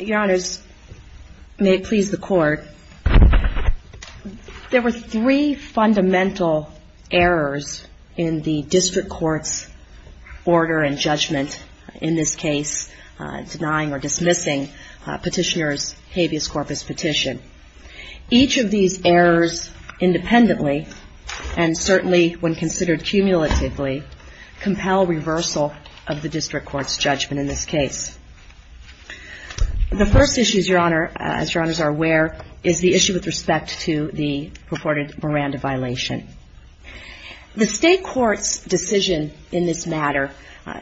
Your Honors, may it please the Court, there were three fundamental errors in the District Court's order and judgment, in this case denying or dismissing Petitioner's habeas corpus petition. Each of these errors independently, and certainly when considered cumulatively, compel reversal of the District Court's judgment in this case. The first issue, Your Honor, as Your Honors are aware, is the issue with respect to the purported Miranda violation. The State Court's decision in this matter,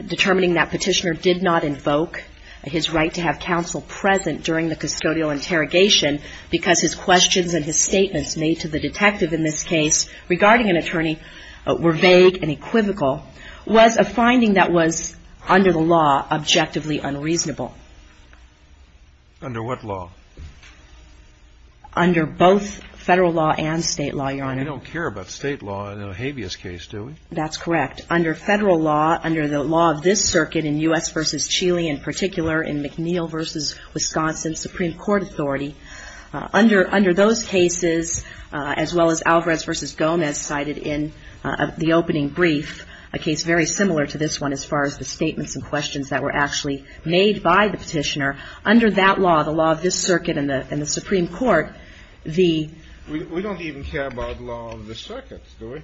determining that Petitioner did not invoke his right to have counsel present during the custodial interrogation because his questions and his statements made to the detective in this case regarding an law objectively unreasonable. Under what law? Under both federal law and state law, Your Honor. We don't care about state law in a habeas case, do we? That's correct. Under federal law, under the law of this circuit in U.S. v. Chile in particular, in McNeil v. Wisconsin Supreme Court Authority, under those cases, as well as Alvarez v. Gomez cited in the opening brief, a case very similar to this one as far as the statements and questions that were actually made by the Petitioner, under that law, the law of this circuit in the Supreme Court, the — We don't even care about the law of this circuit, do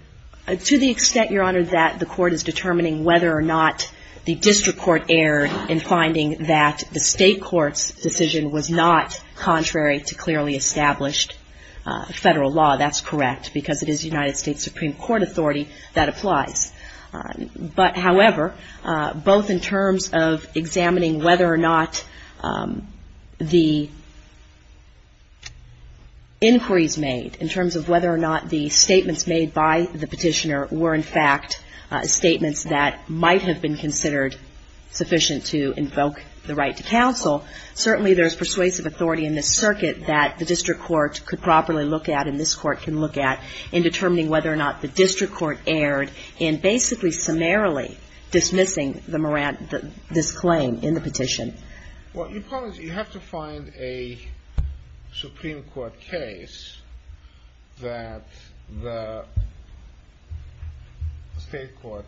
we? To the extent, Your Honor, that the Court is determining whether or not the District Court erred in finding that the State Court's decision was not contrary to clearly established federal law, that's correct, because it is United States Supreme Court authority that applies. But however, both in terms of examining whether or not the inquiries made, in terms of whether or not the statements made by the Petitioner were, in fact, statements that might have been considered sufficient to invoke the right to counsel, certainly there is persuasive authority in this circuit that the District Court could properly look at, and this Court can look at, in determining whether or not the District Court erred in basically summarily dismissing the — this claim in the Petition. Well, Your Honor, you have to find a Supreme Court case that the State Court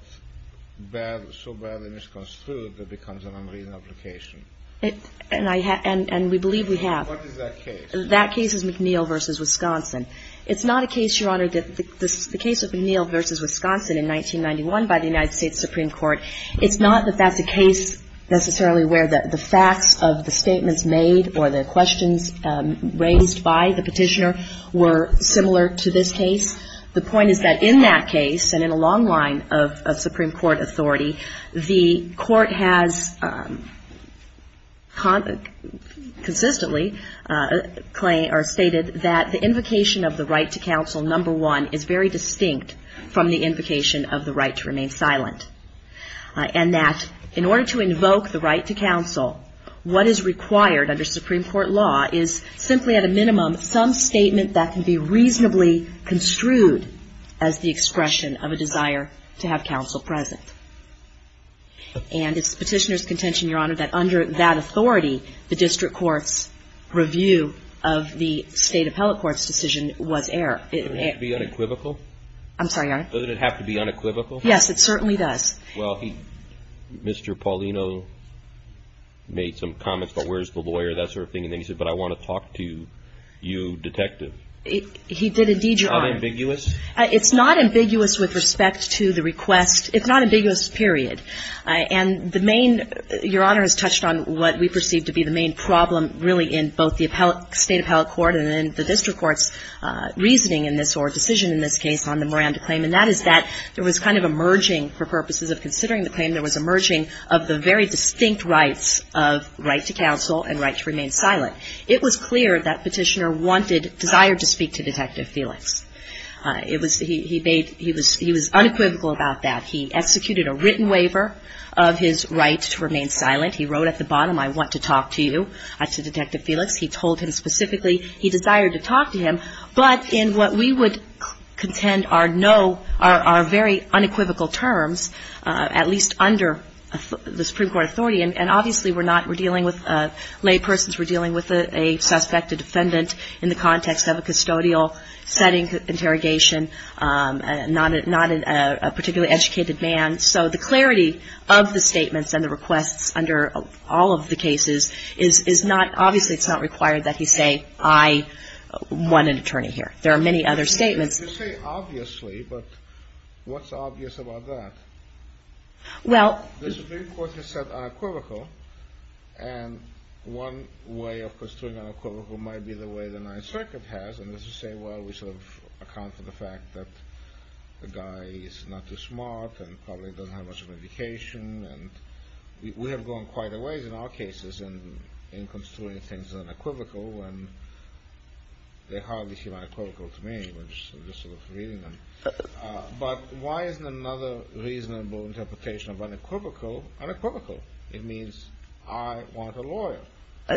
so badly misconstrued that it becomes an unreasonable application. And I — and we believe we have. What is that case? That case is McNeil v. Wisconsin. It's not a case, Your Honor, that — the case of McNeil v. Wisconsin in 1991 by the United States Supreme Court, it's not that that's a case necessarily where the facts of the statements made or the questions raised by the Petitioner were similar to this case. The point is that in that case, and in a long line of Supreme Court authority, the Court has consistently stated that the invocation of the right to counsel, number one, is very distinct from the invocation of the right to remain silent. And that in order to invoke the right to counsel, what is required under Supreme Court law is simply at a minimum some statement that can be reasonably construed as the expression of a desire to have counsel present. And it's the Petitioner's contention, Your Honor, that under that authority, the District Court's review of the State Appellate Court's decision was error. Doesn't it have to be unequivocal? I'm sorry, Your Honor? Doesn't it have to be unequivocal? Yes, it certainly does. Well, he — Mr. Paulino made some comments about where's the lawyer, that sort of thing, and then he said, but I want to talk to you, Detective. He did indeed, Your Honor. Is that ambiguous? It's not ambiguous with respect to the request. It's not ambiguous, period. And the main — Your Honor has touched on what we perceive to be the main problem really in both the State Appellate Court and in the District Court's reasoning in this or decision in this case on the Miranda claim, and that is that there was kind of a merging, for purposes of considering the claim, there was a merging of the very distinct rights of right to counsel and right to remain silent. It was clear that Petitioner wanted — desired to speak to Detective Felix. It was — he made — he was unequivocal about that. He executed a written waiver of his right to remain silent. He wrote at the bottom, I want to talk to you, to Detective Felix. He told him specifically he desired to talk to him, but in what we would contend are no — are very unequivocal terms, at least under the Supreme Court authority, and obviously we're not — we're dealing with — laypersons were dealing with a suspect, a defendant, in the context of a custodial setting interrogation, not a particularly educated man. So the clarity of the statements and the requests under all of the cases is not — obviously it's not required that he say, I want an attorney here. There are many other statements. You say obviously, but what's obvious about that? Well — The Supreme Court has said unequivocal, and one way of construing unequivocal might be the way the Ninth Circuit has, and that's to say, well, we sort of account for the fact that the guy is not too smart and probably doesn't have much of an education, and we have gone quite a ways in our cases in construing things unequivocal, and they hardly seem unequivocal to me. I'm just sort of reading them. But why isn't another reasonable interpretation of unequivocal unequivocal? It means I want a lawyer.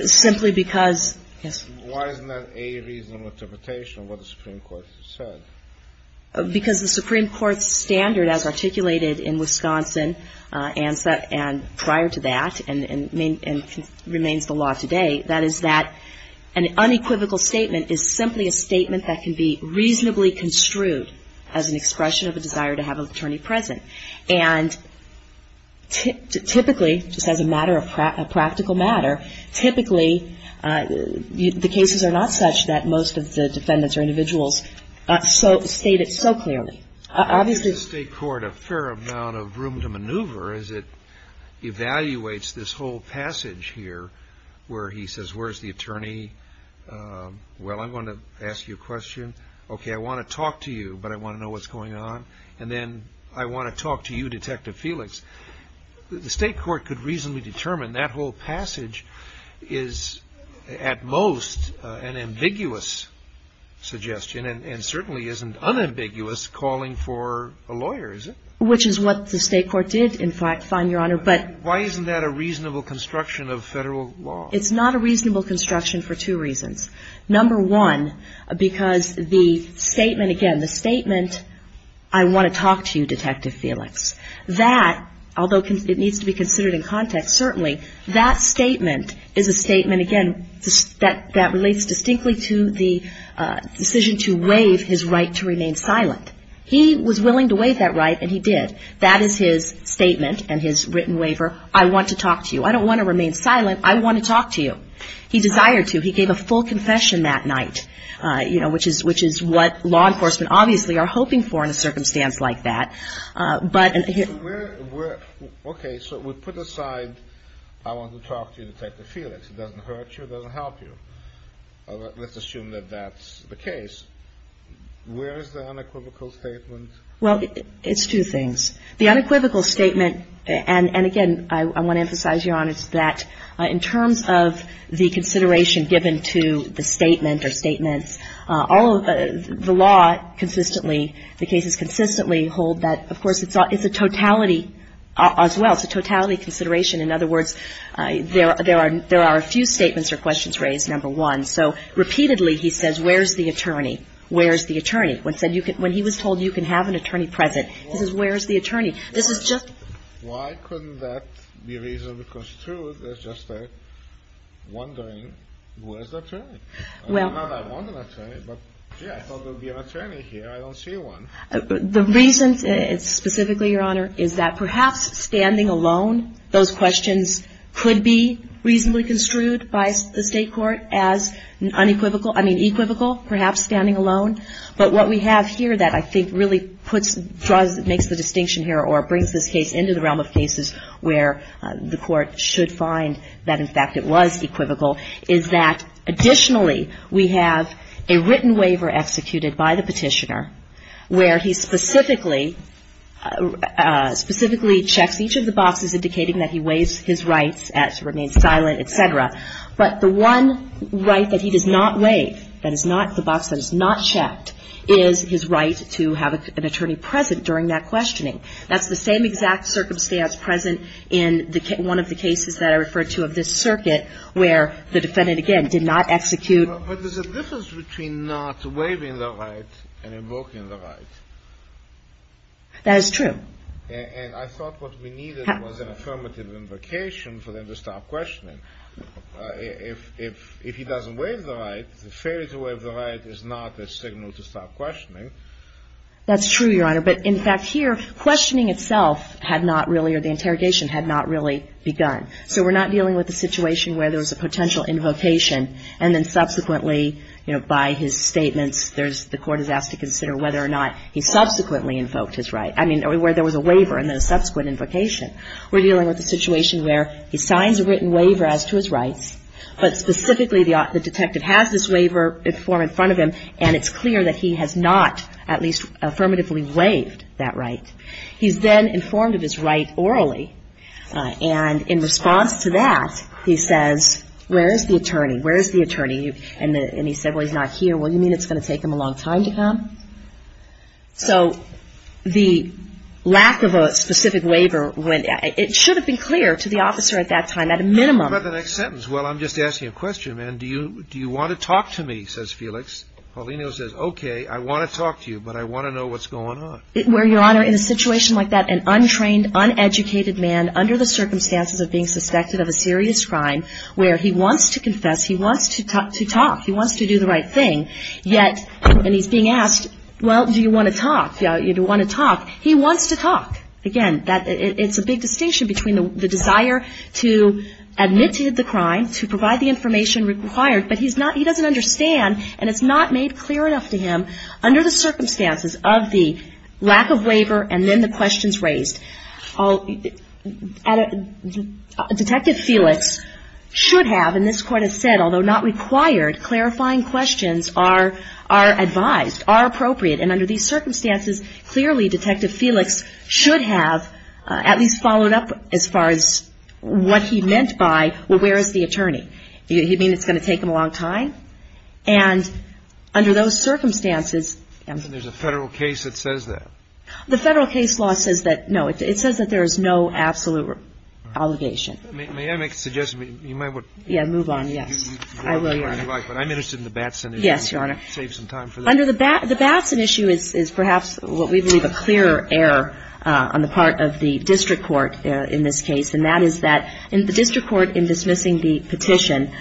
Simply because — Yes. Why isn't that a reasonable interpretation of what the Supreme Court has said? Because the Supreme Court's standard as articulated in Wisconsin and prior to that and remains the law today, that is that an unequivocal statement is simply a statement that can be reasonably construed as an expression of a desire to have an attorney present. And typically, just as a matter of practical matter, typically the cases are not such that most of the defendants or individuals state it so clearly. Obviously — The State Court has a fair amount of room to maneuver as it evaluates this whole passage here where he says, where's the attorney? Well, I'm going to ask you a question. Okay, I want to talk to you, but I want to know what's going on. And then I want to talk to you, Detective Felix. The State Court could reasonably determine that whole passage is at most an ambiguous suggestion and certainly isn't unambiguous calling for a lawyer, is it? Which is what the State Court did, in fact, fine, Your Honor, but — Isn't that a reasonable construction of Federal law? It's not a reasonable construction for two reasons. Number one, because the statement, again, the statement, I want to talk to you, Detective Felix, that, although it needs to be considered in context, certainly that statement is a statement, again, that relates distinctly to the decision to waive his right to remain silent. He was willing to waive that right and he did. That is his statement and his written waiver. I want to talk to you. I don't want to remain silent. I want to talk to you. He desired to. He gave a full confession that night, you know, which is what law enforcement obviously are hoping for in a circumstance like that. But — Okay, so we put aside I want to talk to you, Detective Felix. It doesn't hurt you. It doesn't help you. Let's assume that that's the case. Where is the unequivocal statement? Well, it's two things. The unequivocal statement, and again, I want to emphasize, Your Honor, is that in terms of the consideration given to the statement or statements, all of the law consistently, the cases consistently hold that, of course, it's a totality as well, it's a totality consideration. In other words, there are a few statements or questions raised, number one. So repeatedly he says, where's the attorney? Where's the attorney? When he was told you can have an attorney present, he says, where's the attorney? This is just — Why couldn't that be reasonable construed as just a wondering, where's the attorney? Well — I'm not a wondering attorney, but, gee, I thought there would be an attorney here. I don't see one. The reason, specifically, Your Honor, is that perhaps standing alone, those questions could be reasonably construed by the state court as unequivocal — I mean, equivocal, perhaps standing alone. But what we have here that I think really puts — makes the distinction here or brings this case into the realm of cases where the court should find that, in fact, it was equivocal is that, additionally, we have a written waiver executed by the Petitioner where he specifically checks each of the boxes indicating that he waives his rights to remain silent, et cetera. But the one right that he does not waive, that is not the box that is not checked, is his right to have an attorney present during that questioning. That's the same exact circumstance present in one of the cases that I referred to of this circuit where the defendant, again, did not execute — But there's a difference between not waiving the right and invoking the right. That is true. And I thought what we needed was an affirmative invocation for them to stop questioning. If he doesn't waive the right, the failure to waive the right is not a signal to stop questioning. That's true, Your Honor. But, in fact, here, questioning itself had not really — or the interrogation had not really begun. So we're not dealing with a situation where there was a potential invocation and then subsequently, you know, by his statements, there's — the court is asked to consider whether or not he subsequently invoked his right. I mean, where there was a waiver and then a subsequent invocation. We're dealing with a situation where he signs a written waiver as to his rights, but specifically the detective has this waiver in front of him, and it's clear that he has not at least affirmatively waived that right. He's then informed of his right orally. And in response to that, he says, where is the attorney? Where is the attorney? And he said, well, he's not here. So the lack of a specific waiver, it should have been clear to the officer at that time, at a minimum. How about the next sentence? Well, I'm just asking a question, man. Do you want to talk to me, says Felix. Paulino says, okay, I want to talk to you, but I want to know what's going on. Where, Your Honor, in a situation like that, an untrained, uneducated man, under the circumstances of being suspected of a serious crime, where he wants to confess, he wants to talk, he wants to do the right thing, yet — and he's being asked, well, do you want to talk? Do you want to talk? He wants to talk. Again, it's a big distinction between the desire to admit to the crime, to provide the information required, but he doesn't understand, and it's not made clear enough to him under the circumstances of the lack of waiver and then the questions raised. Detective Felix should have, and this Court has said, although not required, clarifying questions are advised, are appropriate, and under these circumstances, clearly Detective Felix should have at least followed up as far as what he meant by, well, where is the attorney? You mean it's going to take him a long time? And under those circumstances — There's a federal case that says that. The federal case law says that, no, it says that there is no absolute obligation. May I make a suggestion? You might want to — Yeah, move on, yes. I will, Your Honor. But I'm interested in the Batson issue. Yes, Your Honor. Save some time for that. Under the Batson issue is perhaps what we believe a clear error on the part of the district court in this case, and that is that the district court in dismissing the petition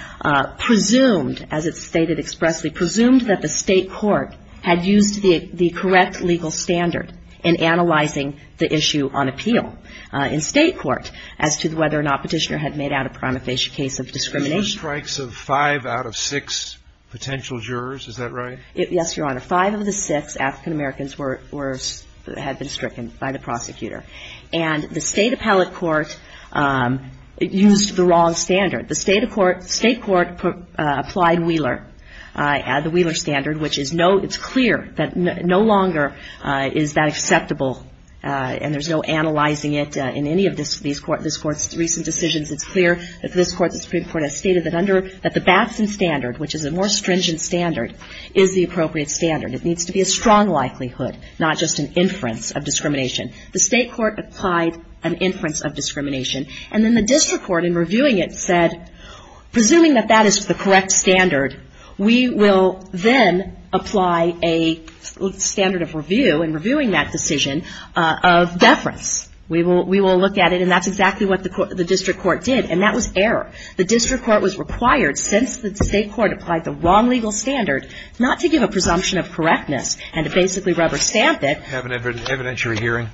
presumed, as it's stated expressly, presumed that the State court had used the correct legal standard in analyzing the issue on appeal in State court as to whether or not Petitioner had made out a pronofacial case of discrimination. Were there strikes of five out of six potential jurors? Is that right? Yes, Your Honor. Five of the six African Americans were — had been stricken by the prosecutor. And the State appellate court used the wrong standard. The State court applied Wheeler, the Wheeler standard, which is no — it's clear that no longer is that acceptable, and there's no analyzing it in any of these courts' recent decisions. It's clear that this Court, the Supreme Court, has stated that under — that the Batson standard, which is a more stringent standard, is the appropriate standard. It needs to be a strong likelihood, not just an inference of discrimination. The State court applied an inference of discrimination. And then the district court, in reviewing it, said, presuming that that is the correct standard, we will then apply a standard of review in reviewing that decision of deference. We will look at it, and that's exactly what the district court did. And that was error. The district court was required, since the State court applied the wrong legal standard, not to give a presumption of correctness and to basically rubber stamp it. Have an evidentiary hearing.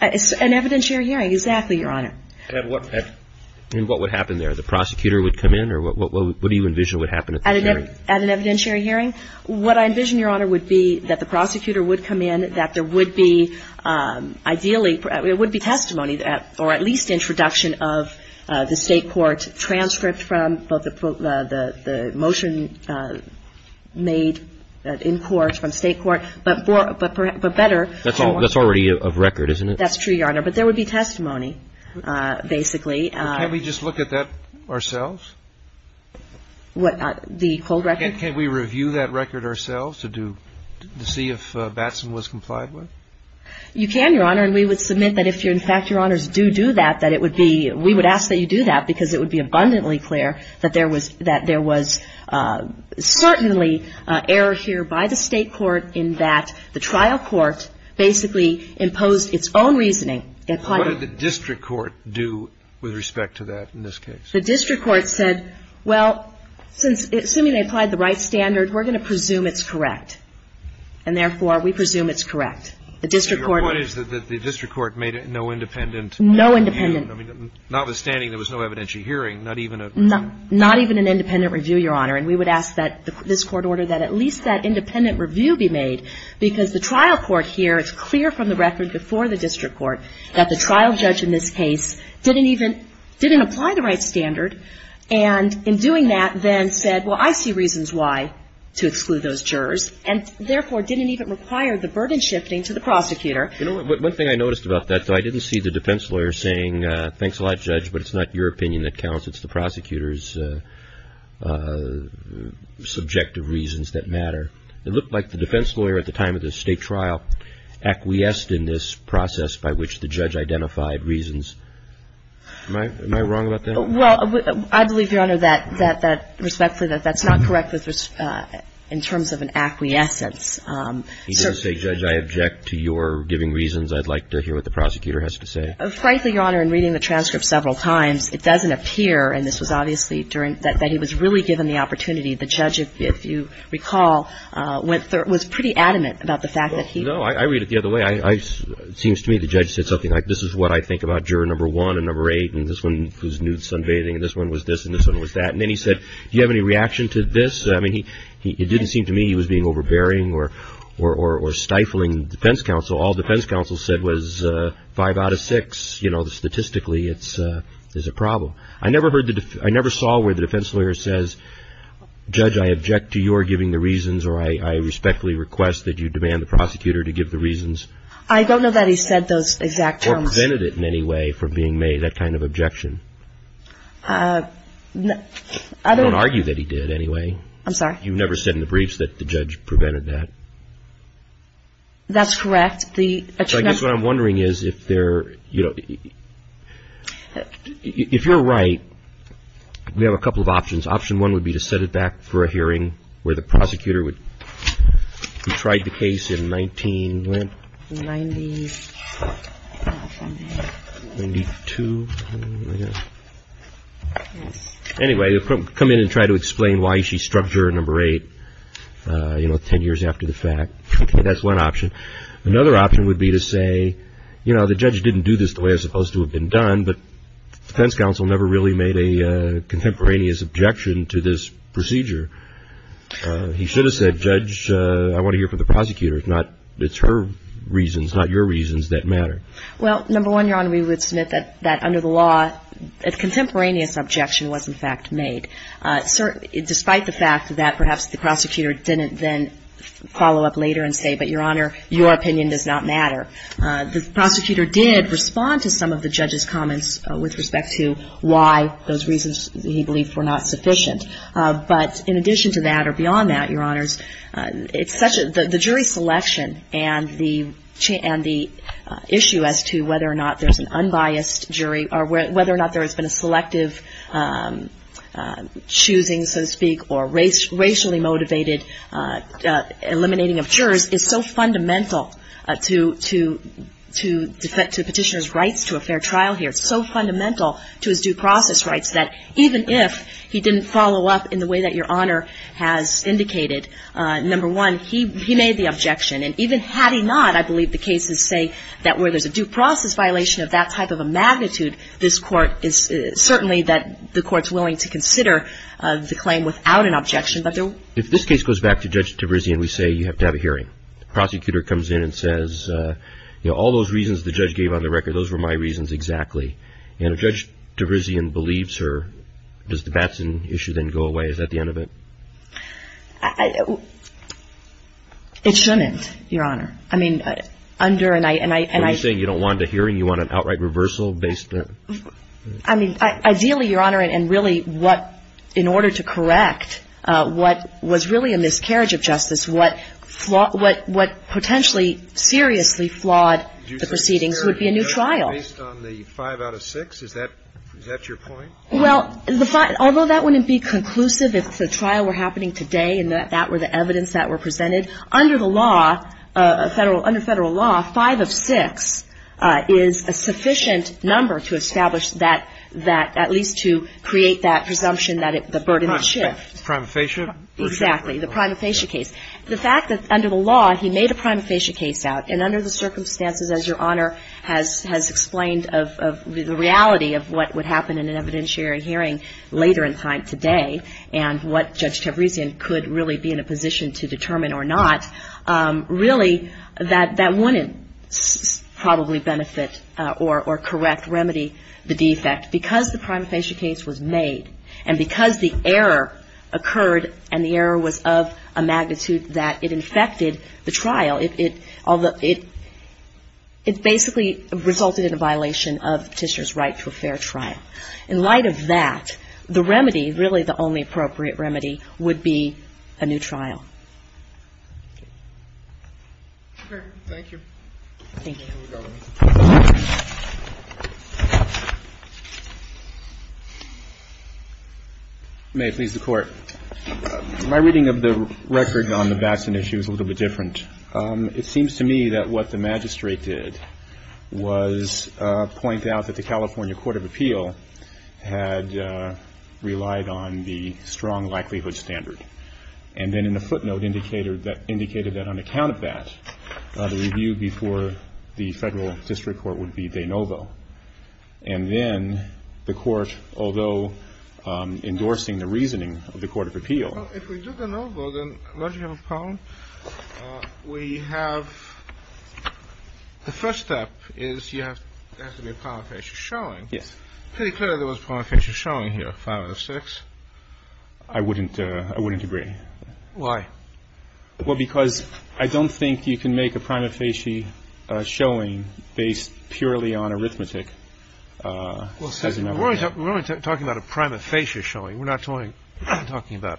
An evidentiary hearing, exactly, Your Honor. And what would happen there? The prosecutor would come in? Or what do you envision would happen at this hearing? At an evidentiary hearing? What I envision, Your Honor, would be that the prosecutor would come in, that there would be, ideally, it would be testimony or at least introduction of the State court transcript from both the motion made in court from State court, but better. That's already a record, isn't it? That's true, Your Honor. But there would be testimony, basically. Can't we just look at that ourselves? What? The full record? Can't we review that record ourselves to see if Batson was complied with? You can, Your Honor. And we would submit that if, in fact, Your Honors do do that, that it would be we would ask that you do that because it would be abundantly clear that there was certainly error here by the State court in that the trial court basically imposed its own reasoning. What did the district court do with respect to that in this case? The district court said, well, since, assuming they applied the right standard, we're going to presume it's correct. And, therefore, we presume it's correct. The district court. Your point is that the district court made no independent review. No independent. Notwithstanding there was no evidentiary hearing, not even a... Not even an independent review, Your Honor. And we would ask that this court order that at least that independent review be made because the trial court here, it's clear from the record before the district court that the trial judge in this case didn't even didn't apply the right standard. And in doing that then said, well, I see reasons why to exclude those jurors and, therefore, didn't even require the burden shifting to the prosecutor. You know, one thing I noticed about that, though, I didn't see the defense lawyer saying, thanks a lot, Judge, but it's not your opinion that counts. It's the prosecutor's subjective reasons that matter. It looked like the defense lawyer at the time of the State trial acquiesced in this process by which the judge identified reasons. Am I wrong about that? Well, I believe, Your Honor, that respectfully that that's not correct in terms of an acquiescence. He didn't say, Judge, I object to your giving reasons. I'd like to hear what the prosecutor has to say. Frankly, Your Honor, in reading the transcript several times, it doesn't appear, and this was obviously during that he was really given the opportunity. The judge, if you recall, was pretty adamant about the fact that he... It seems to me the judge said something like this is what I think about juror number one and number eight and this one who's nude sunbathing and this one was this and this one was that. And then he said, do you have any reaction to this? I mean, it didn't seem to me he was being overbearing or stifling the defense counsel. All defense counsel said was five out of six. You know, statistically, it's a problem. I never saw where the defense lawyer says, Judge, I object to your giving the reasons or I respectfully request that you demand the prosecutor to give the reasons. I don't know that he said those exact terms. Or prevented it in any way from being made, that kind of objection. I don't... I don't argue that he did anyway. I'm sorry? You never said in the briefs that the judge prevented that. That's correct. I guess what I'm wondering is if there, you know, if you're right, we have a couple of options. Option one would be to set it back for a hearing where the prosecutor would... He tried the case in 19... Ninety... Ninety-two... Anyway, come in and try to explain why she struck her at number eight, you know, ten years after the fact. That's one option. Another option would be to say, you know, the judge didn't do this the way it was supposed to have been done, but defense counsel never really made a contemporaneous objection to this procedure. He should have said, Judge, I want to hear from the prosecutor. It's not... It's her reasons, not your reasons, that matter. Well, number one, Your Honor, we would submit that under the law, a contemporaneous objection was in fact made. Despite the fact that perhaps the prosecutor didn't then follow up later and say, but Your Honor, your opinion does not matter, the prosecutor did respond to some of the judge's comments with respect to why those reasons, he believed, were not sufficient. But in addition to that or beyond that, Your Honors, it's such a — the jury selection and the issue as to whether or not there's an unbiased jury or whether or not there has been a selective choosing, so to speak, or racially motivated eliminating of jurors is so fundamental to petitioner's rights to a fair trial here, it's so fundamental to his due process rights that even if he didn't follow up in the way that Your Honor has indicated, number one, he made the objection. And even had he not, I believe the cases say that where there's a due process violation of that type of a magnitude, this Court is certainly that the Court's willing to consider the claim without an objection. If this case goes back to Judge Tavrizian, we say you have to have a hearing. The prosecutor comes in and says, you know, all those reasons the judge gave on the record, those were my reasons exactly. And if Judge Tavrizian believes her, does the Batson issue then go away? Is that the end of it? It shouldn't, Your Honor. I mean, under an — Are you saying you don't want a hearing? You want an outright reversal based on — I mean, ideally, Your Honor, and really what — in order to correct what was really a miscarriage of justice, what potentially seriously flawed the proceedings would be a new trial. Based on the five out of six? Is that your point? Well, although that wouldn't be conclusive if the trial were happening today and that were the evidence that were presented, under the law, under Federal law, five of six is a sufficient number to establish that at least to create that presumption that the burden would shift. Prima facie? Exactly. The prima facie case. The fact that under the law he made a prima facie case out and under the circumstances, as Your Honor has explained, of the reality of what would happen in an evidentiary hearing later in time today and what Judge Tavrizian could really be in a position to determine or not, really, that that wouldn't probably benefit or correct, remedy the defect because the prima facie case was made and because the error occurred and the error was of a magnitude that it infected the trial. It basically resulted in a violation of Petitioner's right to a fair trial. In light of that, the remedy, really the only appropriate remedy, would be a new trial. Okay. Thank you. Thank you. Thank you, Your Honor. May it please the Court. My reading of the record on the Batson issue is a little bit different. It seems to me that what the magistrate did was point out that the California Court of Appeal had relied on the strong likelihood standard. And then in a footnote indicated that on account of that, the review before the Federal District Court would be de novo. And then the Court, although endorsing the reasoning of the Court of Appeal. Well, if we do de novo, then what do you have a problem? We have the first step is you have to make a prima facie showing. Yes. Pretty clear there was a prima facie showing here, 5 out of 6. I wouldn't agree. Why? Well, because I don't think you can make a prima facie showing based purely on arithmetic. We're only talking about a prima facie showing. We're not talking about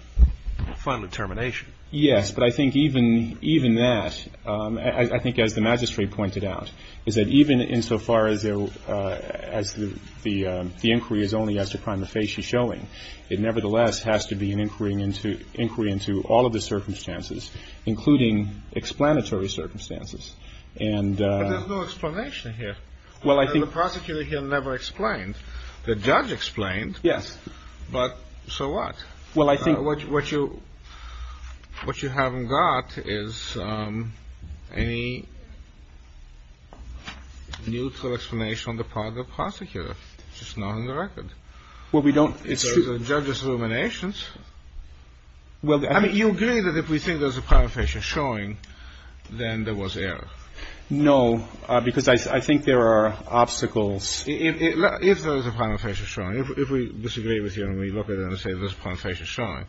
final determination. Yes. But I think even that, I think as the magistrate pointed out, is that even insofar as the inquiry is only as to prima facie showing, it nevertheless has to be an inquiry into all of the circumstances, including explanatory circumstances. But there's no explanation here. Well, I think the prosecutor here never explained. The judge explained. Yes. But so what? Well, I think what you haven't got is any neutral explanation on the part of the prosecutor. It's just not on the record. Well, we don't. I mean, you agree that if we think there's a prima facie showing, then there was error. No, because I think there are obstacles. If there was a prima facie showing, if we disagree with you and we look at it and say there's a prima facie showing,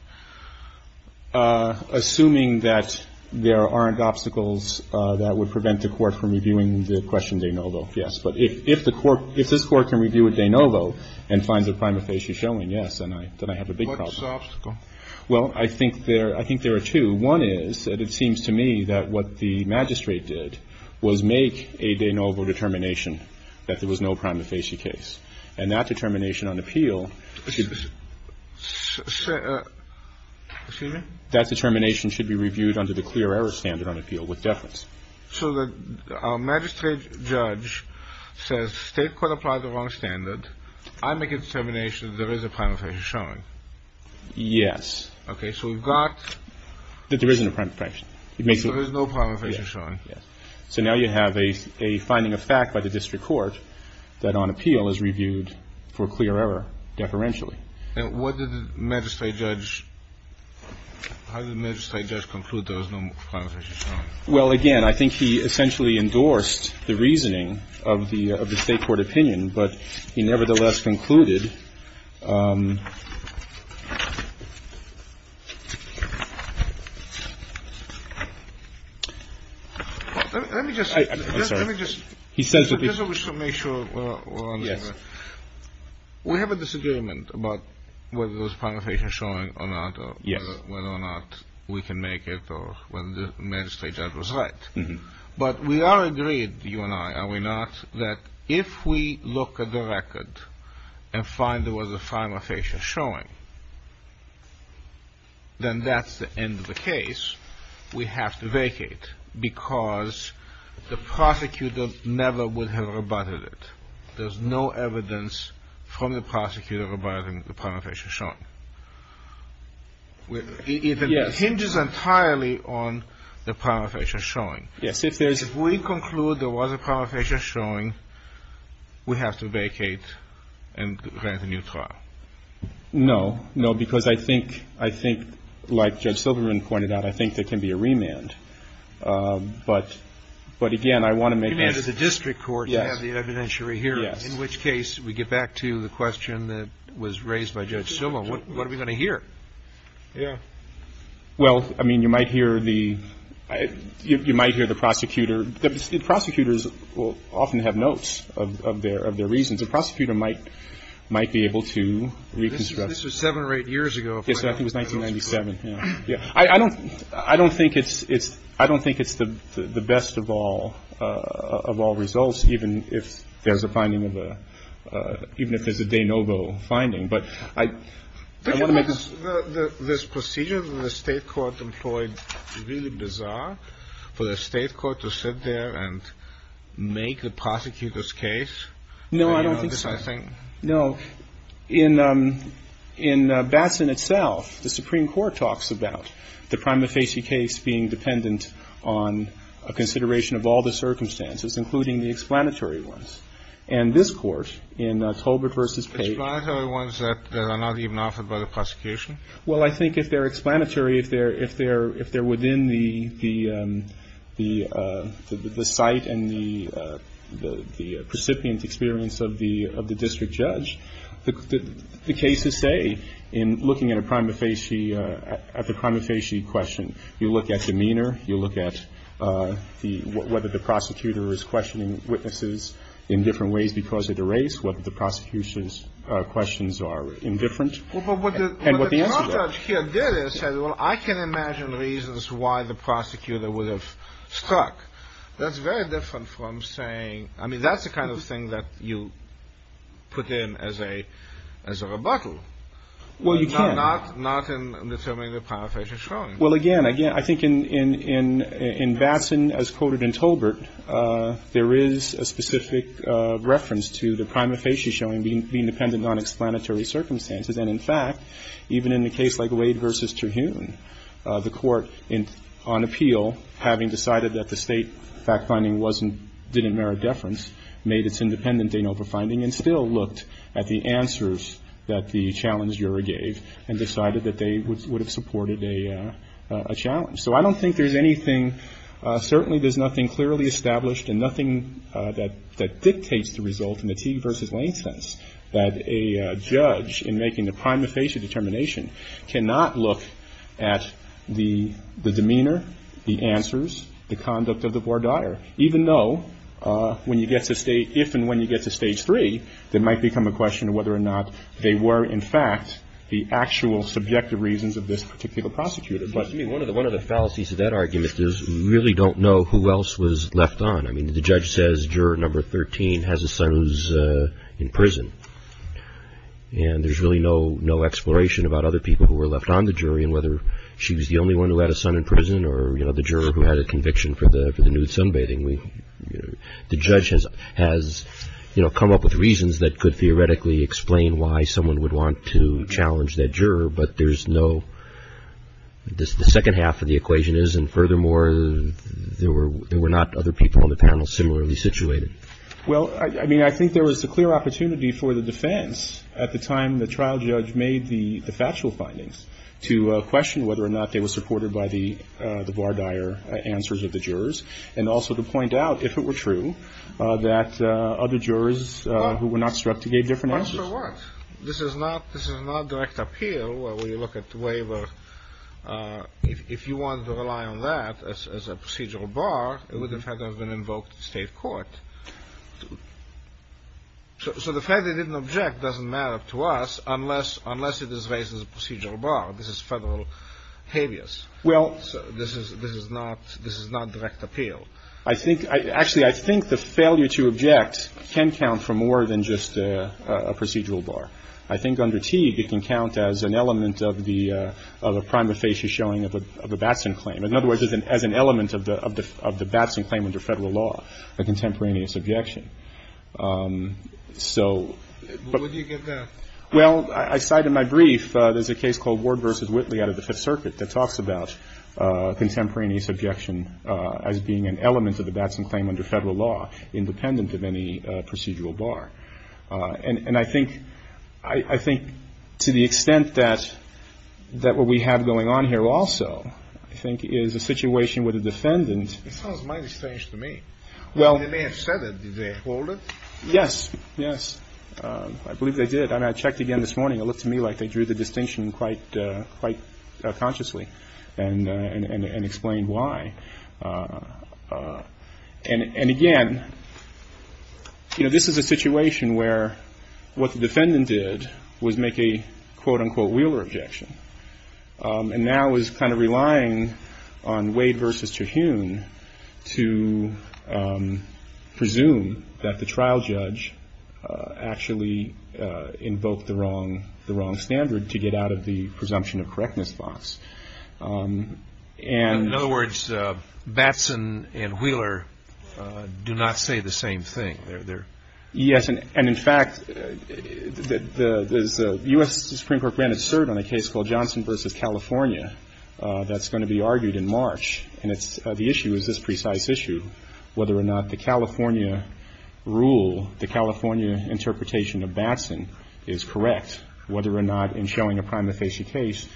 assuming that there aren't obstacles that would prevent the Court from reviewing the question de novo, yes. But if the Court, if this Court can review a de novo and finds a prima facie showing, yes, then I have a big problem. What's the obstacle? Well, I think there are two. One is that it seems to me that what the magistrate did was make a de novo determination that there was no prima facie case. And that determination on appeal should be reviewed under the clear error standard on appeal with deference. So the magistrate judge says state court applied the wrong standard. I make a determination that there is a prima facie showing. Yes. Okay. So we've got... That there isn't a prima facie. There is no prima facie showing. Yes. So now you have a finding of fact by the district court that on appeal is reviewed for clear error deferentially. And what did the magistrate judge, how did the magistrate judge conclude there was no prima facie showing? Well, again, I think he essentially endorsed the reasoning of the state court opinion. But he nevertheless concluded... Let me just... I'm sorry. Let me just... He says that... Just to make sure we're under... Yes. We have a disagreement about whether there was prima facie showing or not. Yes. Whether or not we can make it or whether the magistrate judge was right. But we are agreed, you and I, are we not, that if we look at the record and find there was a prima facie showing, then that's the end of the case. We have to vacate because the prosecutor never would have rebutted it. There's no evidence from the prosecutor about the prima facie showing. It hinges entirely on the prima facie showing. Yes. If we conclude there was a prima facie showing, we have to vacate and grant a new trial. No. No, because I think, like Judge Silverman pointed out, I think there can be a remand. But, again, I want to make... Yes. In which case, we get back to the question that was raised by Judge Silverman. What are we going to hear? Yeah. Well, I mean, you might hear the prosecutor. Prosecutors will often have notes of their reasons. A prosecutor might be able to reconstruct... This was seven or eight years ago. I think it was 1997. I don't think it's the best of all results, even if there's a finding of a... even if there's a de novo finding. But I want to make... This procedure that the state court employed is really bizarre, for the state court to sit there and make the prosecutor's case. No, I don't think so. I think... No. In Batson itself, the Supreme Court talks about the Prima Facie case being dependent on a consideration of all the circumstances, including the explanatory ones. And this Court, in Tolbert v. Page... Explanatory ones that are not even offered by the prosecution? Well, I think if they're explanatory, if they're within the site and the precipient experience of the district judge, the cases say, in looking at the Prima Facie question, you look at demeanor, you look at whether the prosecutor is questioning witnesses in different ways because of the race, whether the prosecution's questions are indifferent, and what the answer is. Well, what the judge here did is said, well, I can imagine reasons why the prosecutor would have struck. That's very different from saying... I mean, that's the kind of thing that you put in as a rebuttal. Well, you can. Not in determining the Prima Facie showing. Well, again, I think in Batson, as quoted in Tolbert, there is a specific reference to the Prima Facie showing being dependent on explanatory circumstances. In Batson, the Court, on appeal, having decided that the State fact-finding wasn't didn't merit deference, made its independent de novo finding, and still looked at the answers that the challenge juror gave and decided that they would have supported a challenge. So I don't think there's anything, certainly there's nothing clearly established and nothing that dictates the result in the Teague v. Lane sense that a judge in making the Prima Facie determination cannot look at the demeanor, the answers, the conduct of the voir dire, even though if and when you get to Stage 3, there might become a question of whether or not they were, in fact, the actual subjective reasons of this particular prosecutor. One of the fallacies of that argument is we really don't know who else was left on. I mean, the judge says juror number 13 has a son who's in prison, and there's really no exploration about other people who were left on the jury and whether she was the only one who had a son in prison or the juror who had a conviction for the nude sunbathing. The judge has come up with reasons that could theoretically explain why someone would want to challenge that juror, but there's no, the second half of the equation is, and furthermore, there were not other people on the panel similarly situated. Well, I mean, I think there was a clear opportunity for the defense at the time the trial judge made the factual findings to question whether or not they were supported by the voir dire answers of the jurors and also to point out, if it were true, that other jurors who were not struck gave different answers. Well, so what? This is not direct appeal. Well, when you look at the waiver, if you want to rely on that as a procedural bar, it would have had to have been invoked in state court. So the fact they didn't object doesn't matter to us unless it is raised as a procedural bar. This is federal habeas. This is not direct appeal. Actually, I think the failure to object can count for more than just a procedural bar. I think under Teague, it can count as an element of the prima facie showing of a Batson claim. In other words, as an element of the Batson claim under federal law, a contemporaneous objection. So but... But where do you get that? Well, I cite in my brief, there's a case called Ward v. Whitley out of the Fifth Circuit that talks about contemporaneous objection as being an element of the Batson claim under federal law independent of any procedural bar. And I think to the extent that what we have going on here also, I think, is a situation where the defendant... It sounds mighty strange to me. Well... They may have said it. Did they hold it? Yes. Yes. I believe they did. And I checked again this morning. It looked to me like they drew the distinction quite consciously and explained why. And again, this is a situation where what the defendant did was make a quote-unquote Wheeler objection. And now is kind of relying on Wade v. Teague to presume that the trial judge actually invoked the wrong standard to get out of the presumption of correctness box. In other words, Batson and Wheeler do not say the same thing. Yes. And in fact, the U.S. Supreme Court granted cert on a case called Johnson v. California that's going to be argued in March. And the issue is this precise issue, whether or not the California rule, the California interpretation of Batson is correct, whether or not in showing a prima facie case,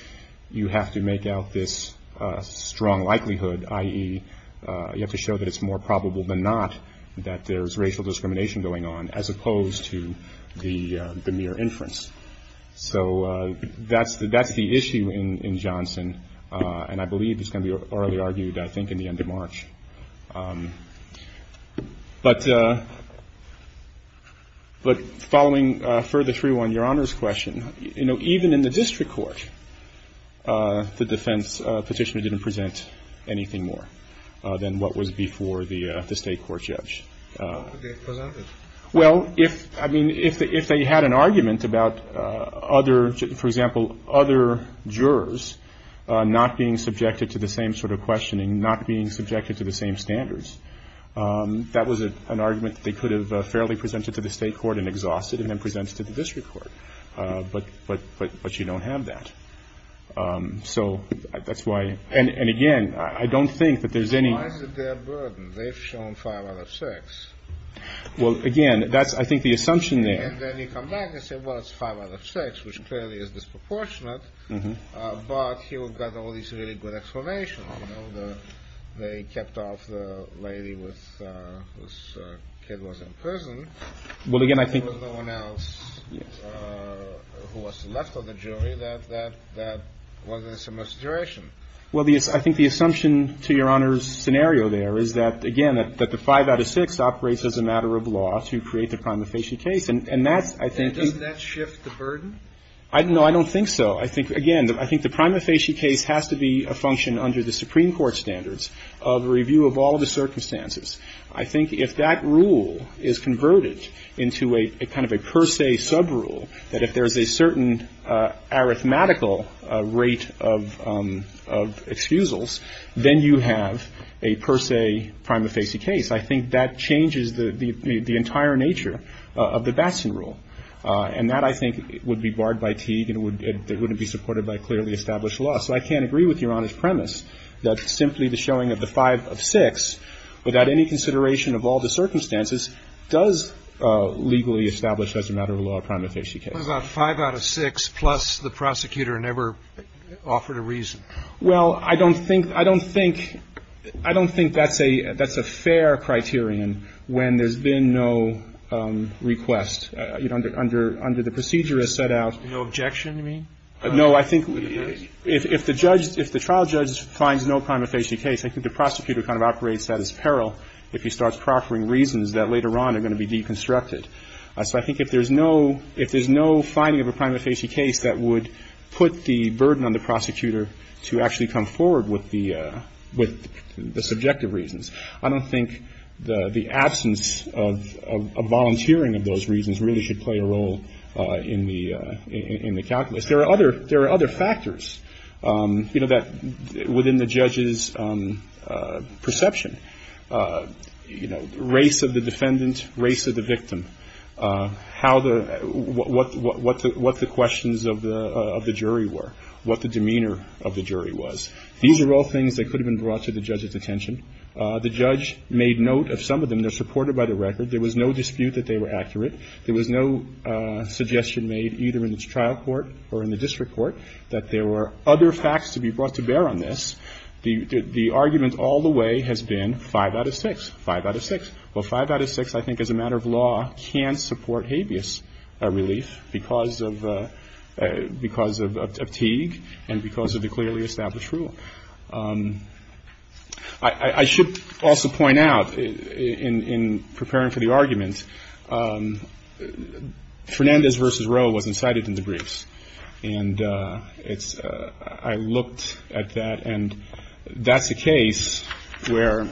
you have to make out this strong likelihood, i.e., you have to show that it's more probable than not that there's racial discrimination going on, as opposed to the mere inference. So that's the issue in Johnson, and I believe it's going to be orally argued, I think, in the end of March. But following further through on Your Honor's question, you know, even in the district court, the defense petitioner didn't present anything more than what was before the state court judge. Well, if, I mean, if they had an argument about other, for example, other jurors not being subjected to the same sort of questioning, not being subjected to the same standards, that was an argument they could have fairly presented to the state court and exhausted and then presented to the district court. But you don't have that. So that's why. And again, I don't think that there's any. Why is it their burden? They've shown five out of six. Well, again, that's, I think, the assumption there. And then you come back and say, well, it's five out of six, which clearly is disproportionate. But here we've got all these really good explanations. They kept off the lady whose kid was in prison. Well, again, I think. There was no one else who was left on the jury that was in a similar situation. Well, I think the assumption to Your Honor's scenario there is that, again, that the five out of six operates as a matter of law to create the prima facie case. And that's, I think. And doesn't that shift the burden? No, I don't think so. I think, again, I think the prima facie case has to be a function under the Supreme Court standards of review of all the circumstances. I think if that rule is converted into a kind of a per se subrule, that if there's a certain arithmetical rate of excusals, then you have a per se prima facie case. I think that changes the entire nature of the Batson rule. And that, I think, would be barred by Teague and wouldn't be supported by clearly established law. So I can't agree with Your Honor's premise that simply the showing of the five of six, without any consideration of all the circumstances, does legally establish as a matter of law a prima facie case. What about five out of six plus the prosecutor never offered a reason? Well, I don't think, I don't think, I don't think that's a, that's a fair criterion when there's been no request. You know, under, under the procedure as set out. No objection, you mean? No, I think if the judge, if the trial judge finds no prima facie case, I think the prosecutor kind of operates that as peril if he starts proffering reasons that later on are going to be deconstructed. So I think if there's no, if there's no finding of a prima facie case that would put the burden on the prosecutor to actually come forward with the, with the subjective reasons, I don't think the absence of volunteering of those reasons really should play a role in the, in the calculus. There are other, there are other factors, you know, that within the judge's perception. You know, race of the defendant, race of the victim. How the, what, what, what the, what the questions of the, of the jury were. What the demeanor of the jury was. These are all things that could have been brought to the judge's attention. The judge made note of some of them. They're supported by the record. There was no dispute that they were accurate. There was no suggestion made, either in the trial court or in the district court, that there were other facts to be brought to bear on this. The argument all the way has been five out of six. Five out of six. Well, five out of six, I think, as a matter of law, can support habeas relief because of, because of Teague and because of the clearly established rule. I should also point out, in preparing for the argument, Fernandez v. Roe wasn't cited in the briefs. And it's, I looked at that and that's a case where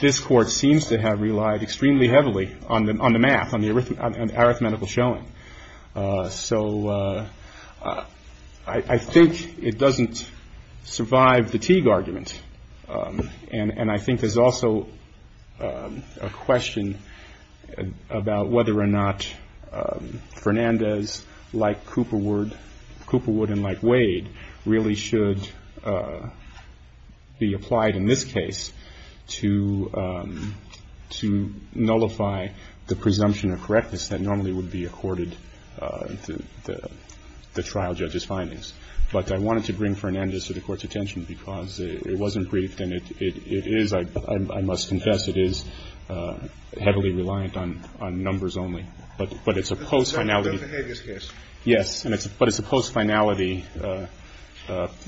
this court seems to have relied extremely heavily on the, on the math, on the arithmetical showing. So I think it doesn't survive the Teague argument. And I think there's also a question about whether or not Fernandez, like Cooperwood, Cooperwood and like Wade, really should be applied in this case to, to nullify the presumption of correctness that normally would be accorded to the trial judge's findings. But I wanted to bring Fernandez to the Court's attention because it wasn't briefed and it is, I must confess, it is heavily reliant on numbers only. But it's a post-finality. But it's a post-finality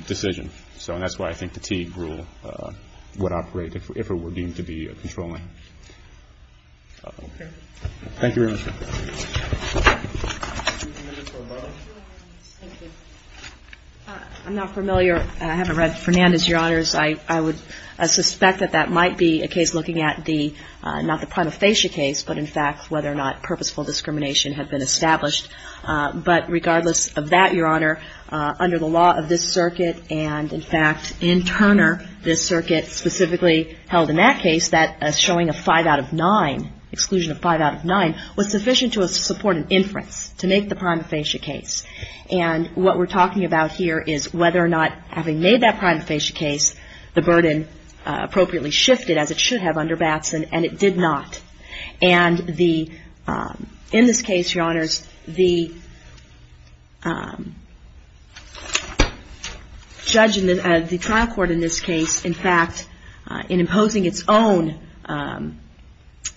decision. So that's why I think the Teague rule would operate if it were deemed to be controlling. Thank you very much. I'm not familiar. I haven't read Fernandez, Your Honors. I would suspect that that might be a case looking at the, not the prima facie case, but in fact whether or not purposeful discrimination had been established. But regardless of that, Your Honor, under the law of this circuit and in fact in Turner, this circuit specifically held in that case that showing a 5 out of 9, exclusion of 5 out of 9, was sufficient to support an inference to make the prima facie case. And what we're talking about here is whether or not having made that prima facie case, the burden appropriately shifted, as it should have under Batson, and it did not. And the, in this case, Your Honors, the judge, the trial court in this case, in fact, in imposing its own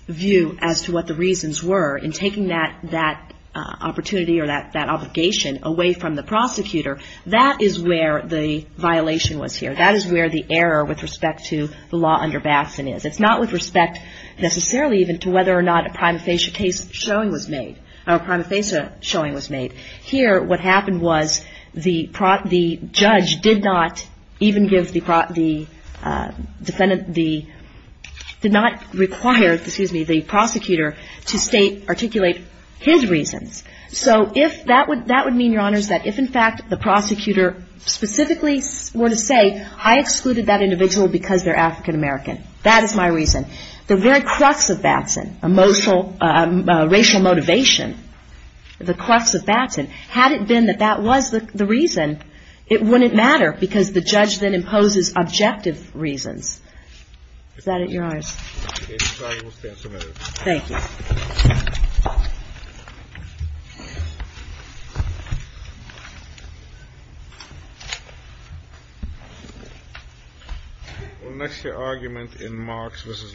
view as to what the reasons were in taking that opportunity or that obligation away from the prosecutor, that is where the violation was here. That is where the error with respect to the law under Batson is. It's not with respect necessarily even to whether or not a prima facie case showing was made, or a prima facie showing was made. Here, what happened was the judge did not even give the defendant the, did not require, excuse me, the prosecutor to state, articulate his reasons. So if that would mean, Your Honors, that if in fact the prosecutor specifically were to say, I excluded that individual because they're African American, that is my reason. The very crux of Batson, emotional, racial motivation, the crux of Batson, had it been that that was the reason, it wouldn't matter because the judge then imposes objective reasons. Is that it, Your Honors? Thank you. We'll next hear argument in Marks v. Lambert.